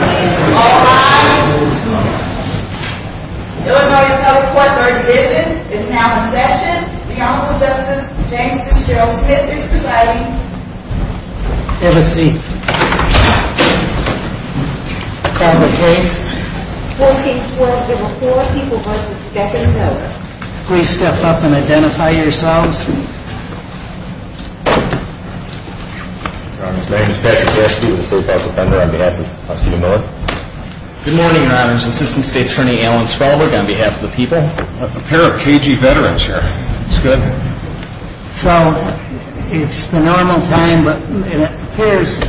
All rise. Illinois Appellate Court, third digit, is now in session. The Honorable Justice James Fitzgerald Smith is presiding. Have a seat. I'll call the case. 14-4, there were four people versus a second voter. Please step up and identify yourselves. Your Honor, my name is Patrick Jaspi with the State Department. I'm here on behalf of Justice Miller. Good morning, Your Honor. This is Assistant State Attorney Alan Spelberg on behalf of the people. A pair of KG veterans here. That's good. So it's the normal time, but it appears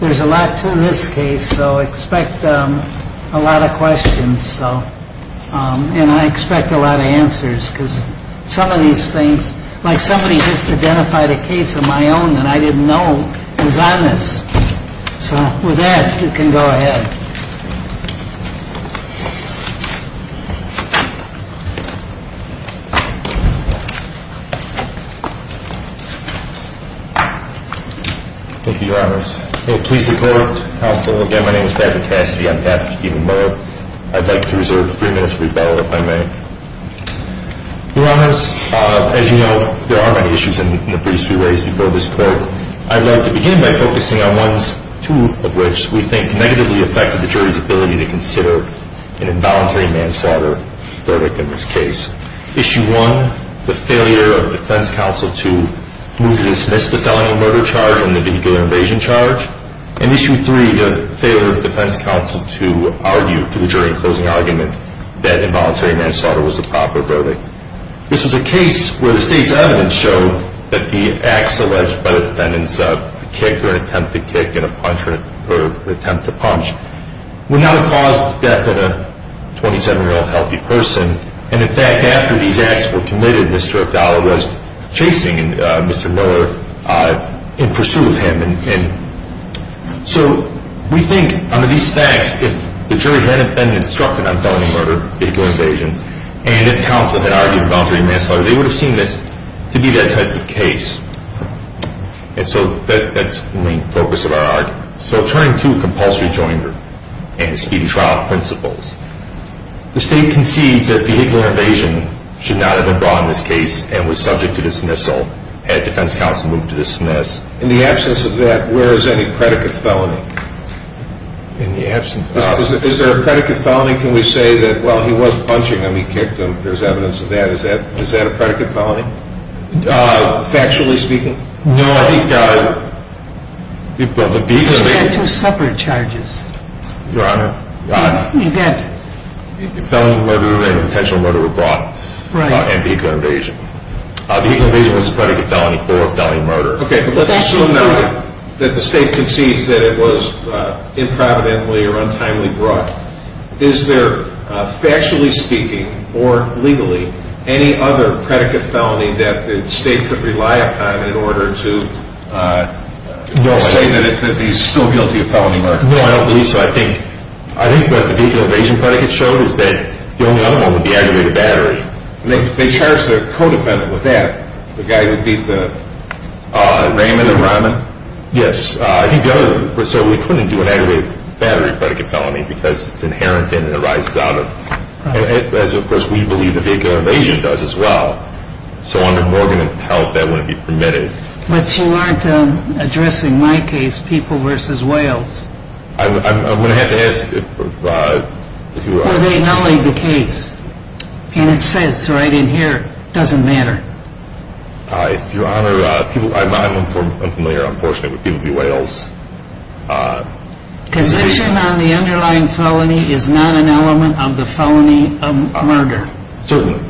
there's a lot to this case, so expect a lot of questions. And I expect a lot of answers because some of these things, like somebody just identified a case of my own that I didn't know was on this. So with that, you can go ahead. Please decode. Counsel, again, my name is Patrick Jaspi. I'm here on behalf of Stephen Miller. I'd like to reserve three minutes for rebuttal, if I may. Your Honors, as you know, there are many issues in the briefs we raised before this court. I'd like to begin by focusing on ones, two of which we think negatively affected the jury's ability to consider an involuntary manslaughter verdict in this case. Issue one, the failure of the defense counsel to move to dismiss the felony murder charge and the vehicular invasion charge. And issue three, the failure of the defense counsel to argue to the jury in closing argument that involuntary manslaughter was the proper verdict. This was a case where the state's evidence showed that the acts alleged by the defendants, a kick or an attempt to kick and a punch or an attempt to punch, would not have caused death in a 27-year-old healthy person. And in fact, after these acts were committed, Mr. Abdallah was chasing Mr. Miller in pursuit of him. And so we think under these facts, if the jury hadn't been instructed on felony murder, vehicular invasion, and if counsel had argued involuntary manslaughter, they would have seen this to be that type of case. And so that's the main focus of our argument. So turning to compulsory joinder and the speedy trial principles, the state concedes that vehicular invasion should not have been brought in this case and was subject to dismissal had defense counsel moved to dismiss. In the absence of that, where is any predicate felony? In the absence of that? Is there a predicate felony? Can we say that, well, he was punching him, he kicked him, there's evidence of that. Is that a predicate felony, factually speaking? No. You've got two separate charges. Your Honor, felony murder and potential murder were brought in vehicular invasion. Vehicular invasion was a predicate felony for felony murder. Okay, but let's assume now that the state concedes that it was improvidently or untimely brought. Is there, factually speaking or legally, any other predicate felony that the state could rely upon in order to say that he's still guilty of felony murder? No, I don't believe so. I think what the vehicular invasion predicate showed is that the only other one would be aggravated battery. They charged their co-defendant with that, the guy who beat Raymond and Rahman? Yes. So we couldn't do an aggravated battery predicate felony because it's inherent in and arises out of, as of course we believe the vehicular invasion does as well. So under Morgan and Pelt, that wouldn't be permitted. But you aren't addressing my case, People v. Wales. I'm going to have to ask if you are. Were they nulling the case? And it says right in here, doesn't matter. Your Honor, I'm unfamiliar, unfortunately, with People v. Wales. Position on the underlying felony is not an element of the felony murder? Certainly.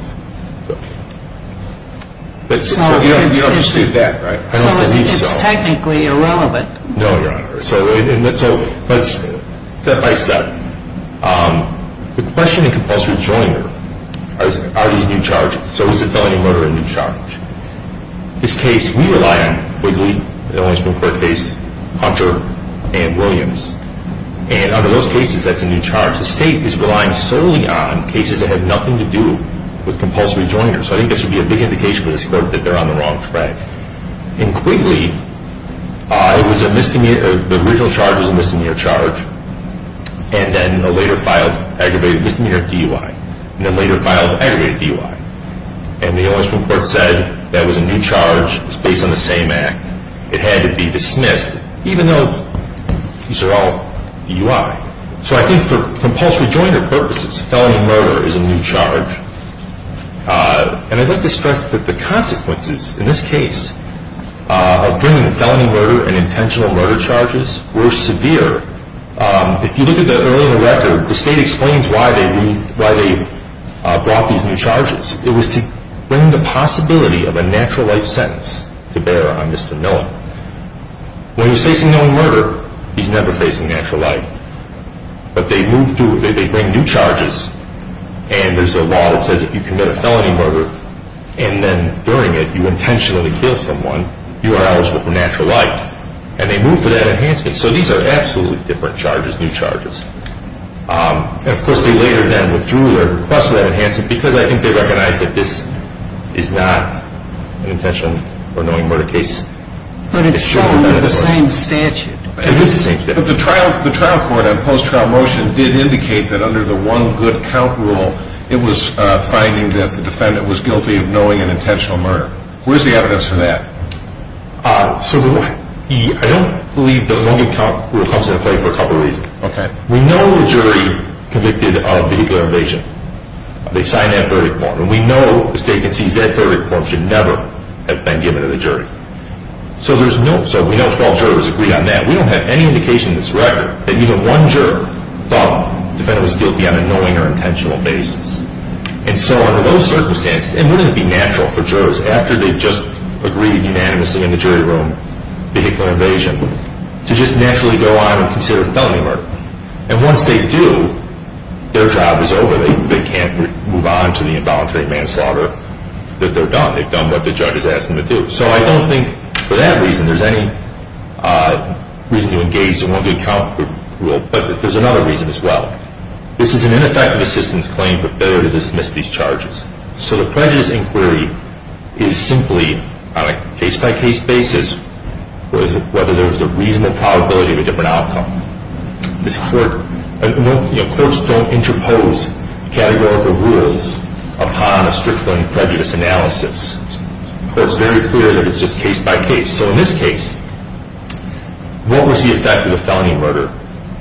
You don't perceive that, right? I don't believe so. So it's technically irrelevant. No, Your Honor. So let's step by step. The question in compulsory joiner are these new charges. So is the felony murder a new charge? This case we rely on, Quigley, Hunter, and Williams. And under those cases, that's a new charge. The State is relying solely on cases that have nothing to do with compulsory joiner. So I think that should be a big indication for this Court that they're on the wrong track. In Quigley, the original charge was a misdemeanor charge. And then a later filed aggravated misdemeanor DUI. And then a later filed aggravated DUI. And the O.S. Supreme Court said that was a new charge. It's based on the same act. It had to be dismissed, even though these are all DUI. So I think for compulsory joiner purposes, felony murder is a new charge. And I'd like to stress that the consequences in this case of bringing felony murder and intentional murder charges were severe. If you look at the earlier record, the State explains why they brought these new charges. It was to bring the possibility of a natural life sentence to bear on Mr. Noland. When he's facing known murder, he's never facing natural life. But they bring new charges. And there's a law that says if you commit a felony murder and then during it you intentionally kill someone, you are eligible for natural life. And they move for that enhancement. So these are absolutely different charges, new charges. And, of course, they later then withdrew their request for that enhancement because I think they recognize that this is not an intentional or known murder case. But it's shown in the same statute. It is the same statute. But the trial court on post-trial motion did indicate that under the one good count rule it was finding that the defendant was guilty of knowing and intentional murder. Where's the evidence for that? So I don't believe the one good count rule comes into play for a couple reasons. Okay. We know the jury convicted of vehicular invasion. They signed that verdict form. And we know the State concedes that verdict form should never have been given to the jury. So we know 12 jurors agree on that. And we don't have any indication in this record that even one juror thought the defendant was guilty on a knowing or intentional basis. And so under those circumstances, wouldn't it be natural for jurors, after they've just agreed unanimously in the jury room vehicular invasion, to just naturally go on and consider felony murder? And once they do, their job is over. They can't move on to the involuntary manslaughter that they've done. They've done what the judge has asked them to do. So I don't think, for that reason, there's any reason to engage the one good count rule. But there's another reason as well. This is an ineffective assistance claim for failure to dismiss these charges. So the prejudice inquiry is simply on a case-by-case basis whether there was a reasonable probability of a different outcome. Courts don't interpose categorical rules upon a strictly prejudiced analysis. So it's very clear that it's just case-by-case. So in this case, what was the effect of the felony murder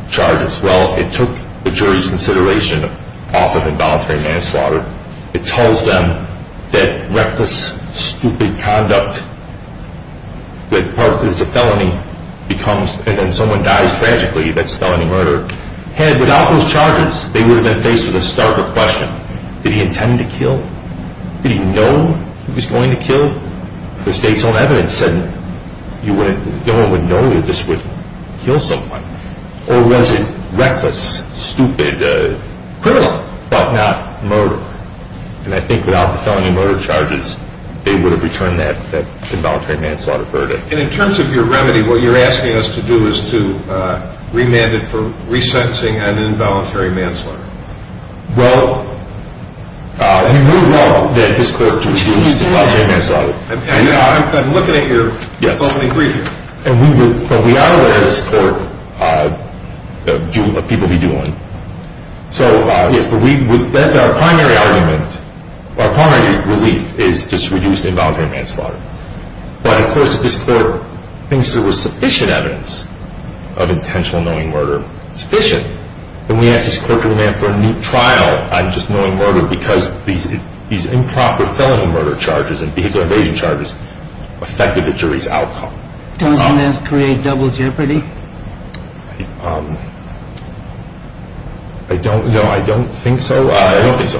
charges? Well, it took the jury's consideration off of involuntary manslaughter. It tells them that reckless, stupid conduct that is a felony becomes and then someone dies tragically that's felony murder. Had it been without those charges, they would have been faced with a starker question. Did he intend to kill? Did he know he was going to kill? The state's own evidence said no one would know that this would kill someone. Or was it reckless, stupid, criminal? Well, not murder. And I think without the felony murder charges, they would have returned that involuntary manslaughter verdict. And in terms of your remedy, what you're asking us to do is to remand it for resentencing on involuntary manslaughter. Well, we would love that this court reduced involuntary manslaughter. I'm looking at your opening brief. But we are aware of this court of what people would be doing. So, yes, but our primary argument, our primary relief, is just to reduce involuntary manslaughter. But of course if this court thinks there was sufficient evidence of intentional knowing murder, sufficient, then we ask this court to remand for a new trial on just knowing murder because these improper felony murder charges and vehicle invasion charges affected the jury's outcome. Doesn't this create double jeopardy? I don't know. I don't think so. I don't think so.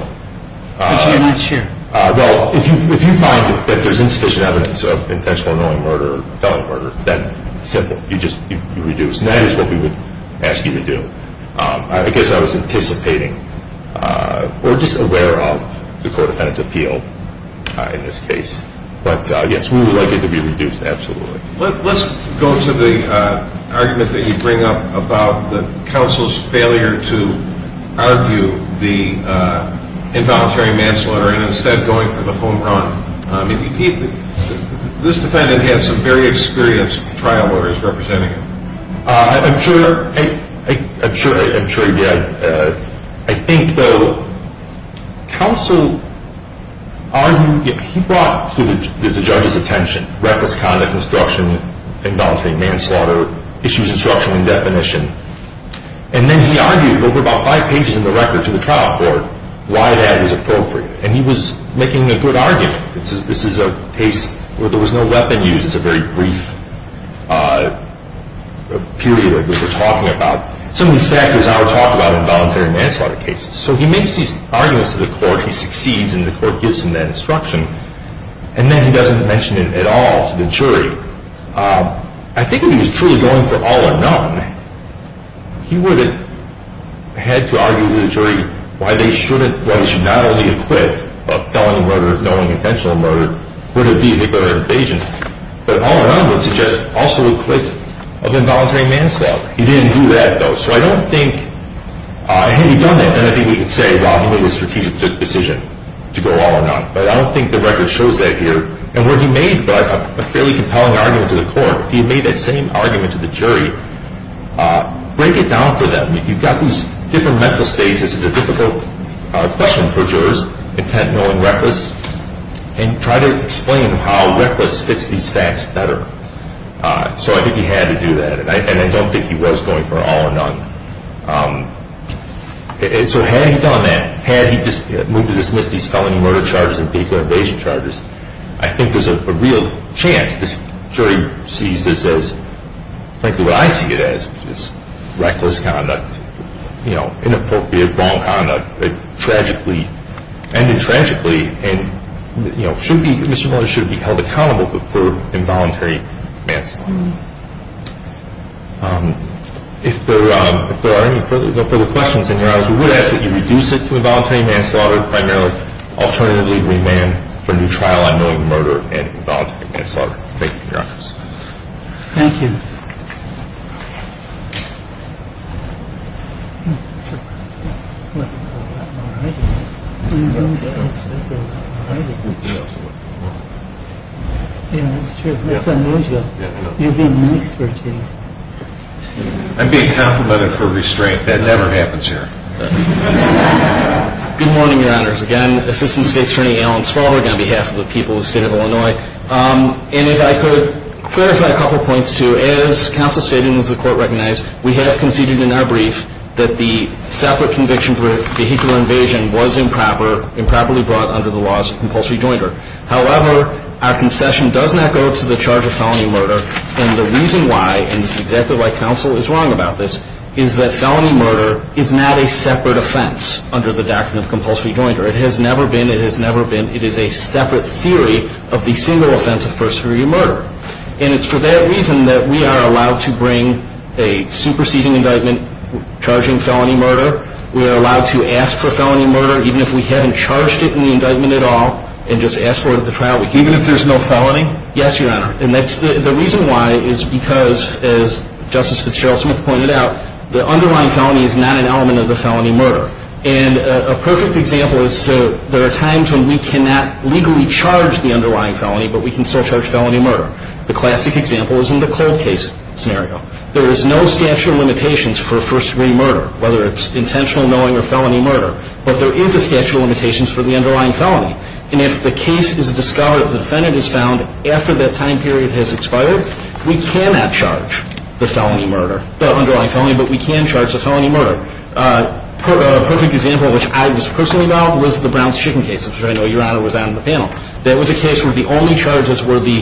But you're not sure. Well, if you find that there's insufficient evidence of intentional knowing murder or felony murder, then simple, you just reduce. And that is what we would ask you to do. I guess I was anticipating or just aware of the court defendant's appeal in this case. But, yes, we would like it to be reduced, absolutely. Let's go to the argument that you bring up about the counsel's failure to argue the involuntary manslaughter and instead going for the home run. This defendant has some very experienced trial lawyers representing him. I'm sure he did. I think, though, counsel argued, he brought to the judge's attention reckless conduct, obstruction, involuntary manslaughter, issues instruction and definition. And then he argued over about five pages in the record to the trial court why that was appropriate. And he was making a good argument. This is a case where there was no weapon used. It's a very brief period that we're talking about. Some of these factors are talked about in involuntary manslaughter cases. So he makes these arguments to the court. He succeeds, and the court gives him that instruction. And then he doesn't mention it at all to the jury. I think if he was truly going for all or none, he would have had to argue to the jury why they shouldn't, why they should not only acquit a felon in murder, knowing intentional murder, would it be a victim of an invasion, but all or none would suggest also acquit of involuntary manslaughter. He didn't do that, though. So I don't think, had he done that, then I think we could say, well, he made a strategic decision to go all or none. But I don't think the record shows that here. And what he made, though, a fairly compelling argument to the court. If he had made that same argument to the jury, break it down for them. You've got these different mental states. This is a difficult question for jurors, intent, knowing, reckless, and try to explain how reckless fits these facts better. So I think he had to do that. And I don't think he was going for all or none. So had he done that, had he moved to dismiss these felony murder charges and vehicle invasion charges, I think there's a real chance this jury sees this as frankly what I see it as, which is reckless conduct, inappropriate, wrong conduct, tragically, ended tragically, and Mr. Miller should be held accountable for involuntary manslaughter. If there are any further questions, in your honors, we would ask that you reduce it to involuntary manslaughter primarily, alternatively remand for new trial on knowing murder and involuntary manslaughter. Thank you, your honors. Thank you. I'm being complimented for restraint. That never happens here. Good morning, your honors. Again, Assistant State's Attorney Alan Spalberg on behalf of the people of the state of Illinois. And if I could clarify a couple points, too. As counsel stated and as the court recognized, we have conceded in our brief that the separate conviction for vehicle invasion was improper, improperly brought under the laws of compulsory joinder. However, our concession does not go to the charge of felony murder. And the reason why, and this is exactly why counsel is wrong about this, is that felony murder is not a separate offense under the doctrine of compulsory joinder. It has never been. It has never been. It is a separate theory of the single offense of first degree murder. And it's for that reason that we are allowed to bring a superseding indictment, charging felony murder. We are allowed to ask for felony murder even if we haven't charged it in the indictment at all and just ask for it at the trial. Even if there's no felony? Yes, your honor. And the reason why is because, as Justice Fitzgerald-Smith pointed out, the underlying felony is not an element of the felony murder. And a perfect example is there are times when we cannot legally charge the underlying felony, but we can still charge felony murder. The classic example is in the cold case scenario. There is no statute of limitations for first degree murder, whether it's intentional knowing or felony murder. But there is a statute of limitations for the underlying felony. And if the case is discovered, if the defendant is found, after that time period has expired, we cannot charge the felony murder, the underlying felony, but we can charge the felony murder. A perfect example, which I was personally involved, was the Brown's Chicken case, which I know your honor was on the panel. That was a case where the only charges were the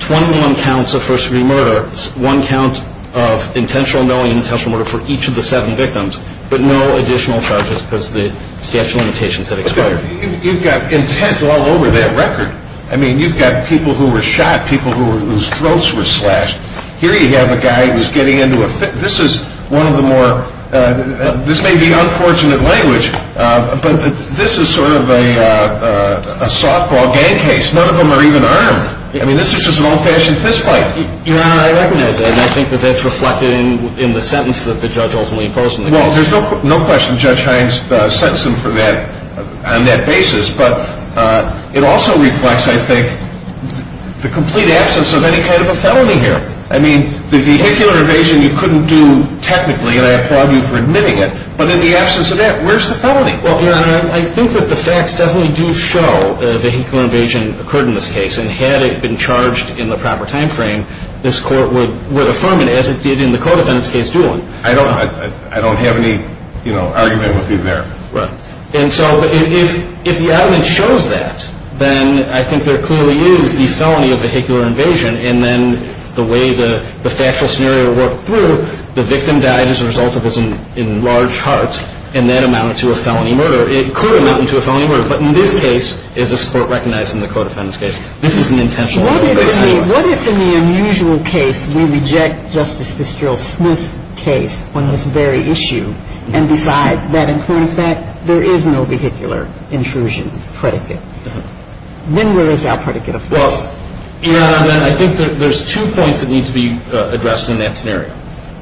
21 counts of first degree murder, one count of intentional knowing and intentional murder for each of the seven victims, but no additional charges because the statute of limitations had expired. You've got intent all over that record. I mean, you've got people who were shot, people whose throats were slashed. Here you have a guy who's getting into a fit. This is one of the more, this may be unfortunate language, but this is sort of a softball gang case. None of them are even armed. I mean, this is just an old-fashioned fist fight. Your honor, I recognize that, and I think that that's reflected in the sentence that the judge ultimately imposed on the guy. Well, there's no question Judge Hines sentenced him for that on that basis, but it also reflects, I think, the complete absence of any kind of a felony here. I mean, the vehicular invasion you couldn't do technically, and I applaud you for admitting it, but in the absence of that, where's the felony? Well, your honor, I think that the facts definitely do show a vehicular invasion occurred in this case, and had it been charged in the proper time frame, this court would affirm it as it did in the co-defendant's case, Doolin. I don't have any argument with you there. And so if the evidence shows that, then I think there clearly is the felony of vehicular invasion, and then the way the factual scenario worked through, the victim died as a result of this in large parts, and that amounted to a felony murder. It clearly amounted to a felony murder, but in this case, as this Court recognized in the co-defendant's case, this is an intentional violation. What if in the unusual case we reject Justice Fitzgerald's Smith case on this very issue and decide that, in current fact, there is no vehicular intrusion predicate? Then where is our predicate of this? Well, your honor, I think that there's two points that need to be addressed in that scenario.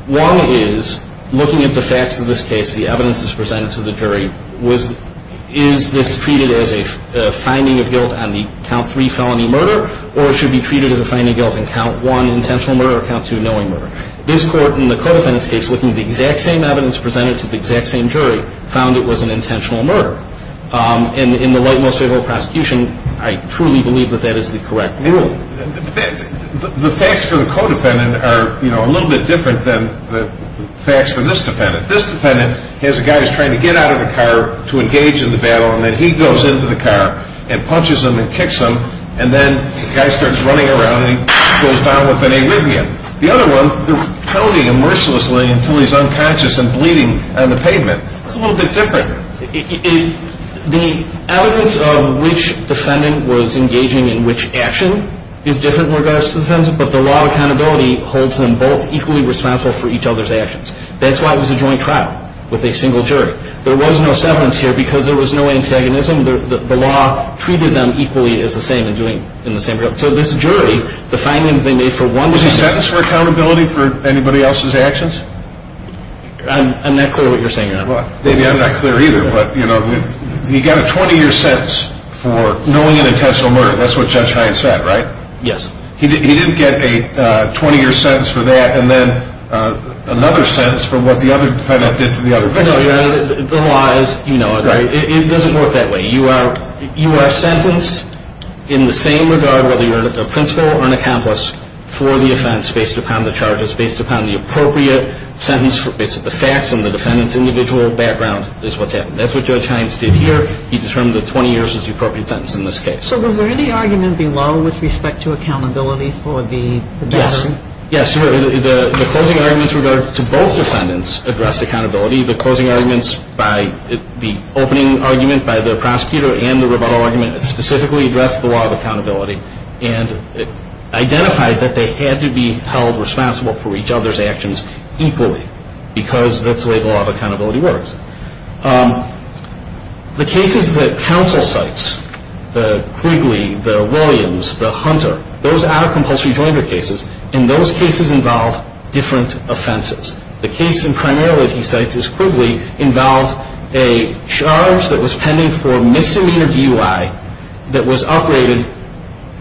One is, looking at the facts of this case, the evidence that's presented to the jury, is this treated as a finding of guilt on the count three felony murder, or should it be treated as a finding of guilt in count one intentional murder or count two knowing murder? This Court, in the co-defendant's case, looking at the exact same evidence presented to the exact same jury, found it was an intentional murder. In the light and most favorable prosecution, I truly believe that that is the correct rule. The facts for the co-defendant are a little bit different than the facts for this defendant. This defendant has a guy who's trying to get out of the car to engage in the battle, and then he goes into the car and punches him and kicks him, and then the guy starts running around and he goes down with an Erivian. The other one, they're pounding him mercilessly until he's unconscious and bleeding on the pavement. It's a little bit different. The evidence of which defendant was engaging in which action is different in regards to the defendant, but the law of accountability holds them both equally responsible for each other's actions. That's why it was a joint trial with a single jury. There was no severance here because there was no antagonism. The law treated them equally as the same in the same regard. So this jury, the finding that they made for one defendant... Was he sentenced for accountability for anybody else's actions? I'm not clear what you're saying, Your Honor. Maybe I'm not clear either, but he got a 20-year sentence for knowing an intentional murder. That's what Judge Hines said, right? Yes. He didn't get a 20-year sentence for that, and then another sentence for what the other defendant did to the other victim. No, Your Honor, the law is, you know it, right? It doesn't work that way. You are sentenced in the same regard, whether you're a principal or an accomplice, for the offense based upon the charges, based upon the appropriate sentence, based on the facts, and the defendant's individual background is what's happening. That's what Judge Hines did here. He determined that 20 years was the appropriate sentence in this case. So was there any argument below with respect to accountability for the battering? Yes. The closing arguments to both defendants addressed accountability. The closing arguments by the opening argument by the prosecutor and the rebuttal argument specifically addressed the law of accountability and identified that they had to be held responsible for each other's actions equally because that's the way the law of accountability works. The cases that counsel cites, the Quigley, the Williams, the Hunter, those are compulsory joinder cases, and those cases involve different offenses. The case primarily that he cites is Quigley, involves a charge that was pending for misdemeanor DUI that was upgraded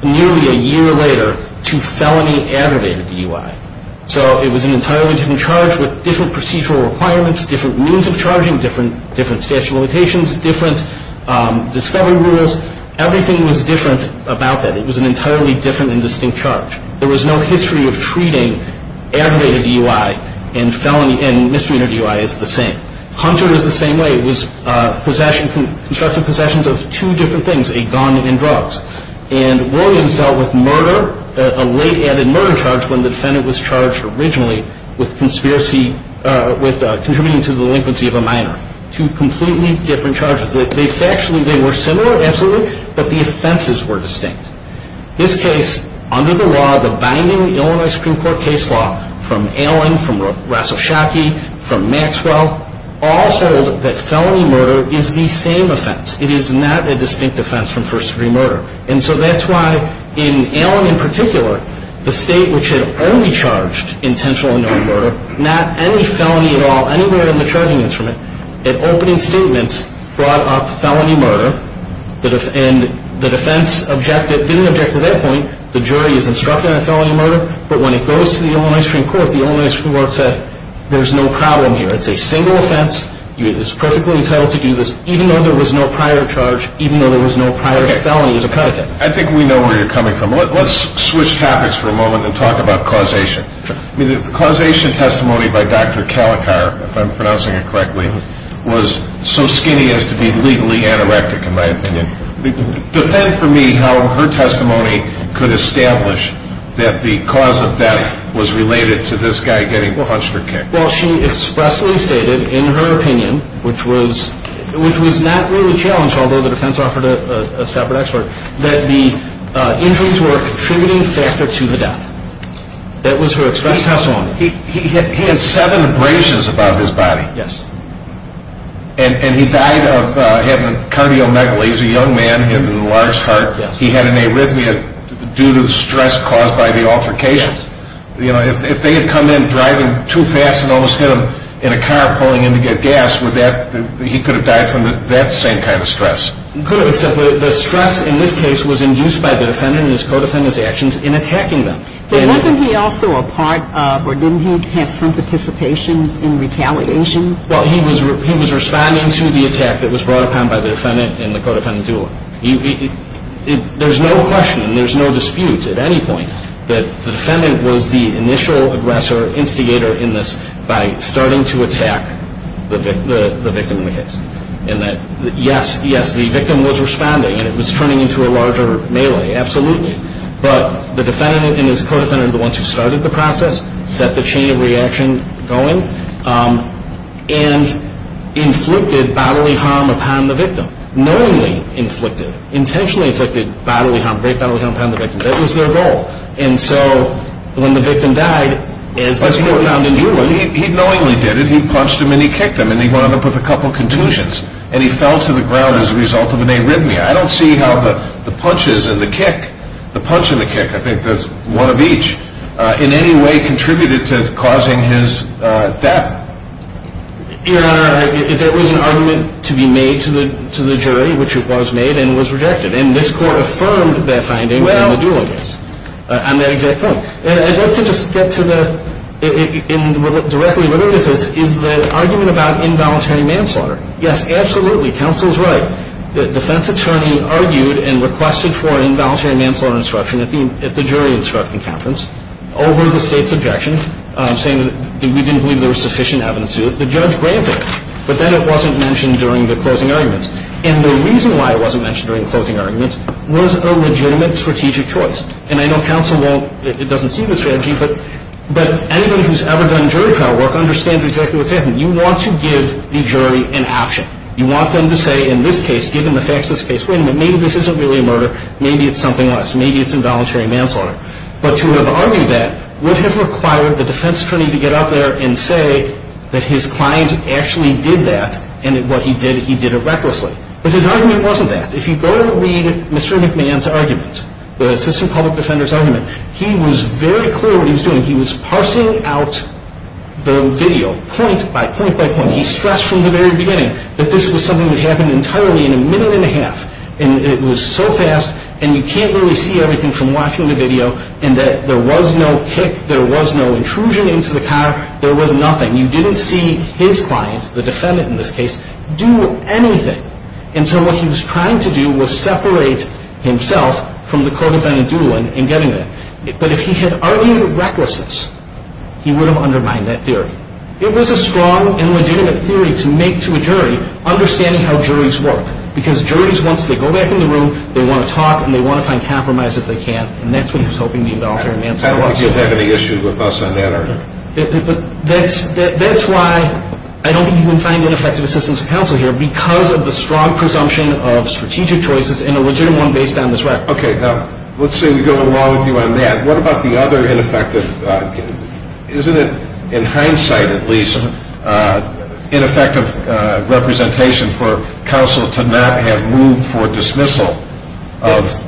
nearly a year later to felony aggravated DUI. So it was an entirely different charge with different procedural requirements, different means of charging, different statute of limitations, different discovery rules. Everything was different about that. It was an entirely different and distinct charge. There was no history of treating aggravated DUI and felony and misdemeanor DUI as the same. Hunter was the same way. It was possession, constructive possessions of two different things, a gun and drugs. And Williams dealt with murder, a late added murder charge, when the defendant was charged originally with conspiracy, with contributing to the delinquency of a minor. Two completely different charges. They factually, they were similar, absolutely, but the offenses were distinct. This case, under the law, the binding Illinois Supreme Court case law, from Allen, from Rassochocki, from Maxwell, all hold that felony murder is the same offense. It is not a distinct offense from first degree murder. And so that's why in Allen in particular, the state which had only charged intentional and known murder, not any felony at all, anywhere in the charging instrument, an opening statement brought up felony murder. And the defense objected, didn't object to that point. The jury is instructed on felony murder. But when it goes to the Illinois Supreme Court, the Illinois Supreme Court said, there's no problem here. It's a single offense. You are perfectly entitled to do this, even though there was no prior charge, even though there was no prior felony as a predicate. I think we know where you're coming from. Let's switch topics for a moment and talk about causation. The causation testimony by Dr. Calicar, if I'm pronouncing it correctly, was so skinny as to be legally anorectic, in my opinion. Defend for me how her testimony could establish that the cause of death was related to this guy getting punched or kicked. Well, she expressly stated in her opinion, which was not really challenged, although the defense offered a separate expert, that the injuries were a contributing factor to the death. That was her express testimony. He had seven abrasions above his body. Yes. And he died of having cardiomegaly. He's a young man, he had an enlarged heart. He had an arrhythmia due to the stress caused by the altercation. Yes. If they had come in driving too fast and almost hit him in a car pulling in to get gas, he could have died from that same kind of stress. Could have, except the stress in this case was induced by the defendant and his co-defendant's actions in attacking them. But wasn't he also a part of, or didn't he have some participation in retaliation? Well, he was responding to the attack that was brought upon by the defendant and the co-defendant, too. There's no question, there's no dispute at any point, that the defendant was the initial aggressor, instigator in this by starting to attack the victim in the case. Yes, yes, the victim was responding and it was turning into a larger melee, absolutely. But the defendant and his co-defendant are the ones who started the process, set the chain of reaction going, and inflicted bodily harm upon the victim, knowingly inflicted, intentionally inflicted bodily harm, great bodily harm upon the victim. That was their goal. And so when the victim died, as the court found in Newland He knowingly did it. he punched him and he kicked him and he wound up with a couple of contusions and he fell to the ground as a result of an arrhythmia. I don't see how the punches and the kick, the punch and the kick, I think that's one of each, in any way contributed to causing his death. There was an argument to be made to the jury, which it was made and was rejected. And this court affirmed that finding in the dual case, on that exact point. I'd like to just get to the, in directly related to this, is the argument about involuntary manslaughter. Yes, absolutely. Counsel's right. The defense attorney argued and requested for an involuntary manslaughter instruction at the jury instruction conference, over the State's objection, saying that we didn't believe there was sufficient evidence to do it. The judge granted. But then it wasn't mentioned during the closing arguments. And the reason why it wasn't mentioned during the closing arguments was a legitimate strategic choice. And I know counsel won't, it doesn't see the strategy, but anybody who's ever done jury trial work understands exactly what's happening. You want to give the jury an option. You want them to say, in this case, given the facts of this case, wait a minute, maybe this isn't really a murder, maybe it's something else, maybe it's involuntary manslaughter. But to have argued that would have required the defense attorney to get out there and say that his client actually did that, and what he did, he did it recklessly. But his argument wasn't that. If you go to read Mr. McMahon's argument, the assistant public defender's argument, he was very clear what he was doing. He was parsing out the video point by point by point. He stressed from the very beginning that this was something that happened entirely in a minute and a half, and it was so fast, and you can't really see everything from watching the video, and that there was no kick, there was no intrusion into the car, there was nothing. You didn't see his client, the defendant in this case, do anything. And so what he was trying to do was separate himself from the co-defendant dueling and getting there. But if he had argued recklessness, he would have undermined that theory. It was a strong and legitimate theory to make to a jury, understanding how juries work, because juries, once they go back in the room, they want to talk and they want to find compromise if they can, and that's what he was hoping the involuntary manslaughter was. I don't think you have any issue with us on that argument. That's why I don't think you can find an effective assistant to counsel here because of the strong presumption of strategic choices and a legitimate one based on this record. Okay, now let's say we go along with you on that. What about the other ineffective? Isn't it, in hindsight at least, ineffective representation for counsel to not have moved for dismissal of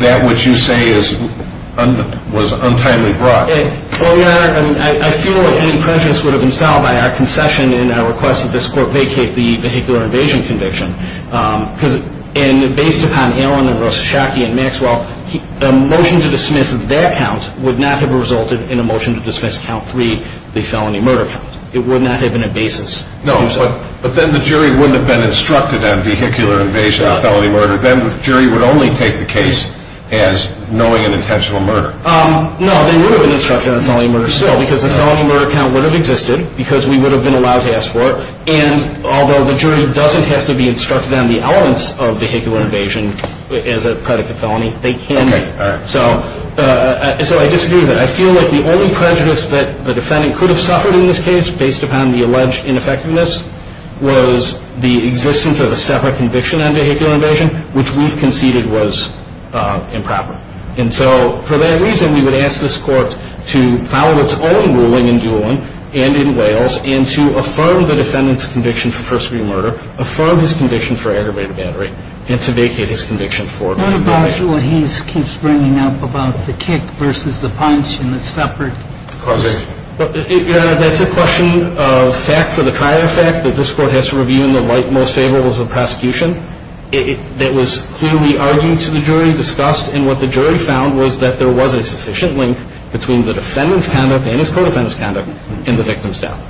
that which you say was untimely brought? Well, Your Honor, I feel like any prejudice would have been solved by our concession and our request that this Court vacate the vehicular invasion conviction. And based upon Allen and Rosashaki and Maxwell, a motion to dismiss that count would not have resulted in a motion to dismiss count three, the felony murder count. It would not have been a basis to do so. No, but then the jury wouldn't have been instructed on vehicular invasion and felony murder. Then the jury would only take the case as knowing an intentional murder. No, they would have been instructed on felony murder still because the felony murder count would have existed because we would have been allowed to ask for it. And although the jury doesn't have to be instructed on the elements of vehicular invasion as a predicate felony, they can be. Okay, all right. So I disagree with that. I feel like the only prejudice that the defendant could have suffered in this case based upon the alleged ineffectiveness was the existence of a separate conviction on vehicular invasion, which we've conceded was improper. And so for that reason, we would ask this Court to follow its own ruling in Doolin and in Wales and to affirm the defendant's conviction for first degree murder, affirm his conviction for aggravated battery, and to vacate his conviction for aggravated battery. What about what he keeps bringing up about the kick versus the punch and the separate? Your Honor, that's a question of fact for the trial effect that this Court has to review in the light most favorable to the prosecution. That was clearly argued to the jury, discussed, and what the jury found was that there was a sufficient link between the defendant's conduct and his co-defendant's conduct in the victim's death,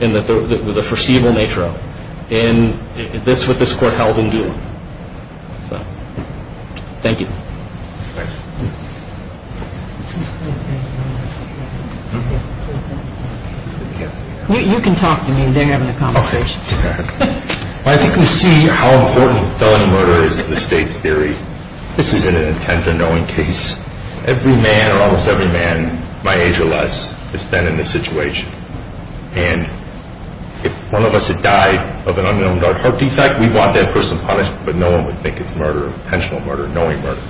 in the foreseeable nature of it. And that's what this Court held in Doolin. So thank you. You can talk to me. They're having a conversation. Okay. I think we see how important felony murder is to the State's theory. This isn't an intent and knowing case. Every man or almost every man, my age or less, has been in this situation. And if one of us had died of an unknown dark heart defect, we'd want that person punished, but no one would think it's murder, intentional murder, knowing murder.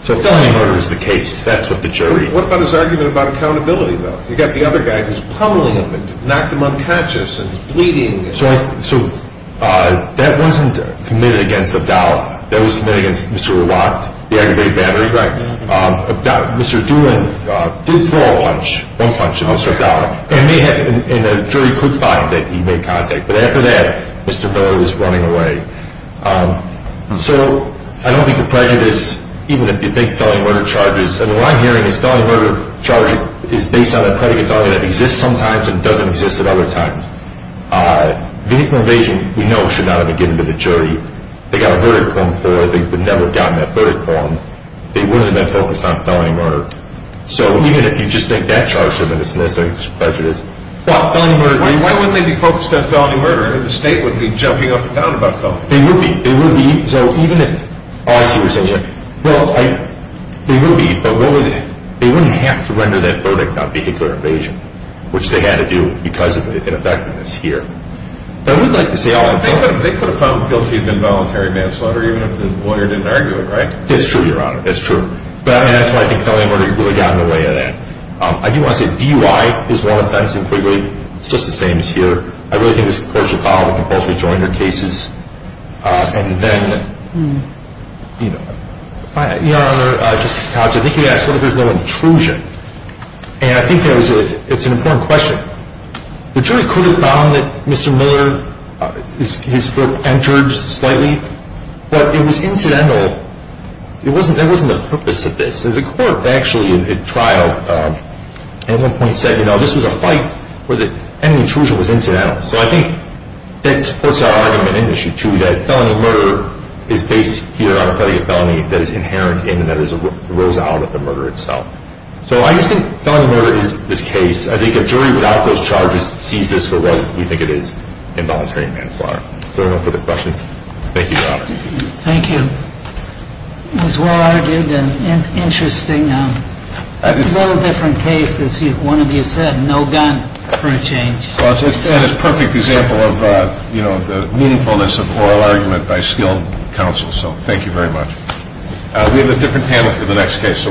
So felony murder is the case. That's what the jury. What about his argument about accountability, though? You've got the other guy who's pummeling him and knocked him unconscious and he's bleeding. So that wasn't committed against Abdallah. That wasn't committed against Mr. Rawat, the aggravated battery. Right. Mr. Doolin did throw a punch, one punch at Mr. Abdallah, and the jury could find that he made contact. But after that, Mr. Miller was running away. So I don't think the prejudice, even if you think felony murder charges, and what I'm hearing is felony murder charges is based on a predicate that exists sometimes and doesn't exist at other times. Vehicular invasion, we know, should not have been given to the jury. They got a verdict for it. They would never have gotten that verdict for him. They wouldn't have been focused on felony murder. So even if you just think that charge should have been dismissed, I think that's what the prejudice is. Why wouldn't they be focused on felony murder? The state wouldn't be jumping up and down about felony murder. They would be. They would be. So even if, oh, I see what you're saying here. Well, they would be, but they wouldn't have to render that verdict on vehicular invasion, which they had to do because of ineffectiveness here. But I would like to say also. They could have found guilty of involuntary manslaughter, even if the lawyer didn't argue it, right? That's true, Your Honor. That's true. But, I mean, that's why I think felony murder really got in the way of that. I do want to say DUI is one offense in Quigley. It's just the same as here. I really think this court should follow the compulsory jointer cases. And then, Your Honor, Justice Couch, I think you asked what if there's no intrusion. And I think it's an important question. The jury could have found that Mr. Miller, his foot entered slightly. But it was incidental. It wasn't the purpose of this. The court actually at trial at one point said, you know, this was a fight where any intrusion was incidental. So I think that supports our argument in Issue 2, that felony murder is based here on a felony that is inherent in and that rose out of the murder itself. So I just think felony murder is this case. I think a jury without those charges sees this for what we think it is, involuntary manslaughter. Is there no further questions? Thank you, Your Honor. Thank you. It was well-argued and interesting. A little different case, as one of you said, no gun for a change. Well, it's a perfect example of, you know, the meaningfulness of oral argument by skilled counsel. So thank you very much. We have a different panel for the next case, so we'll be back.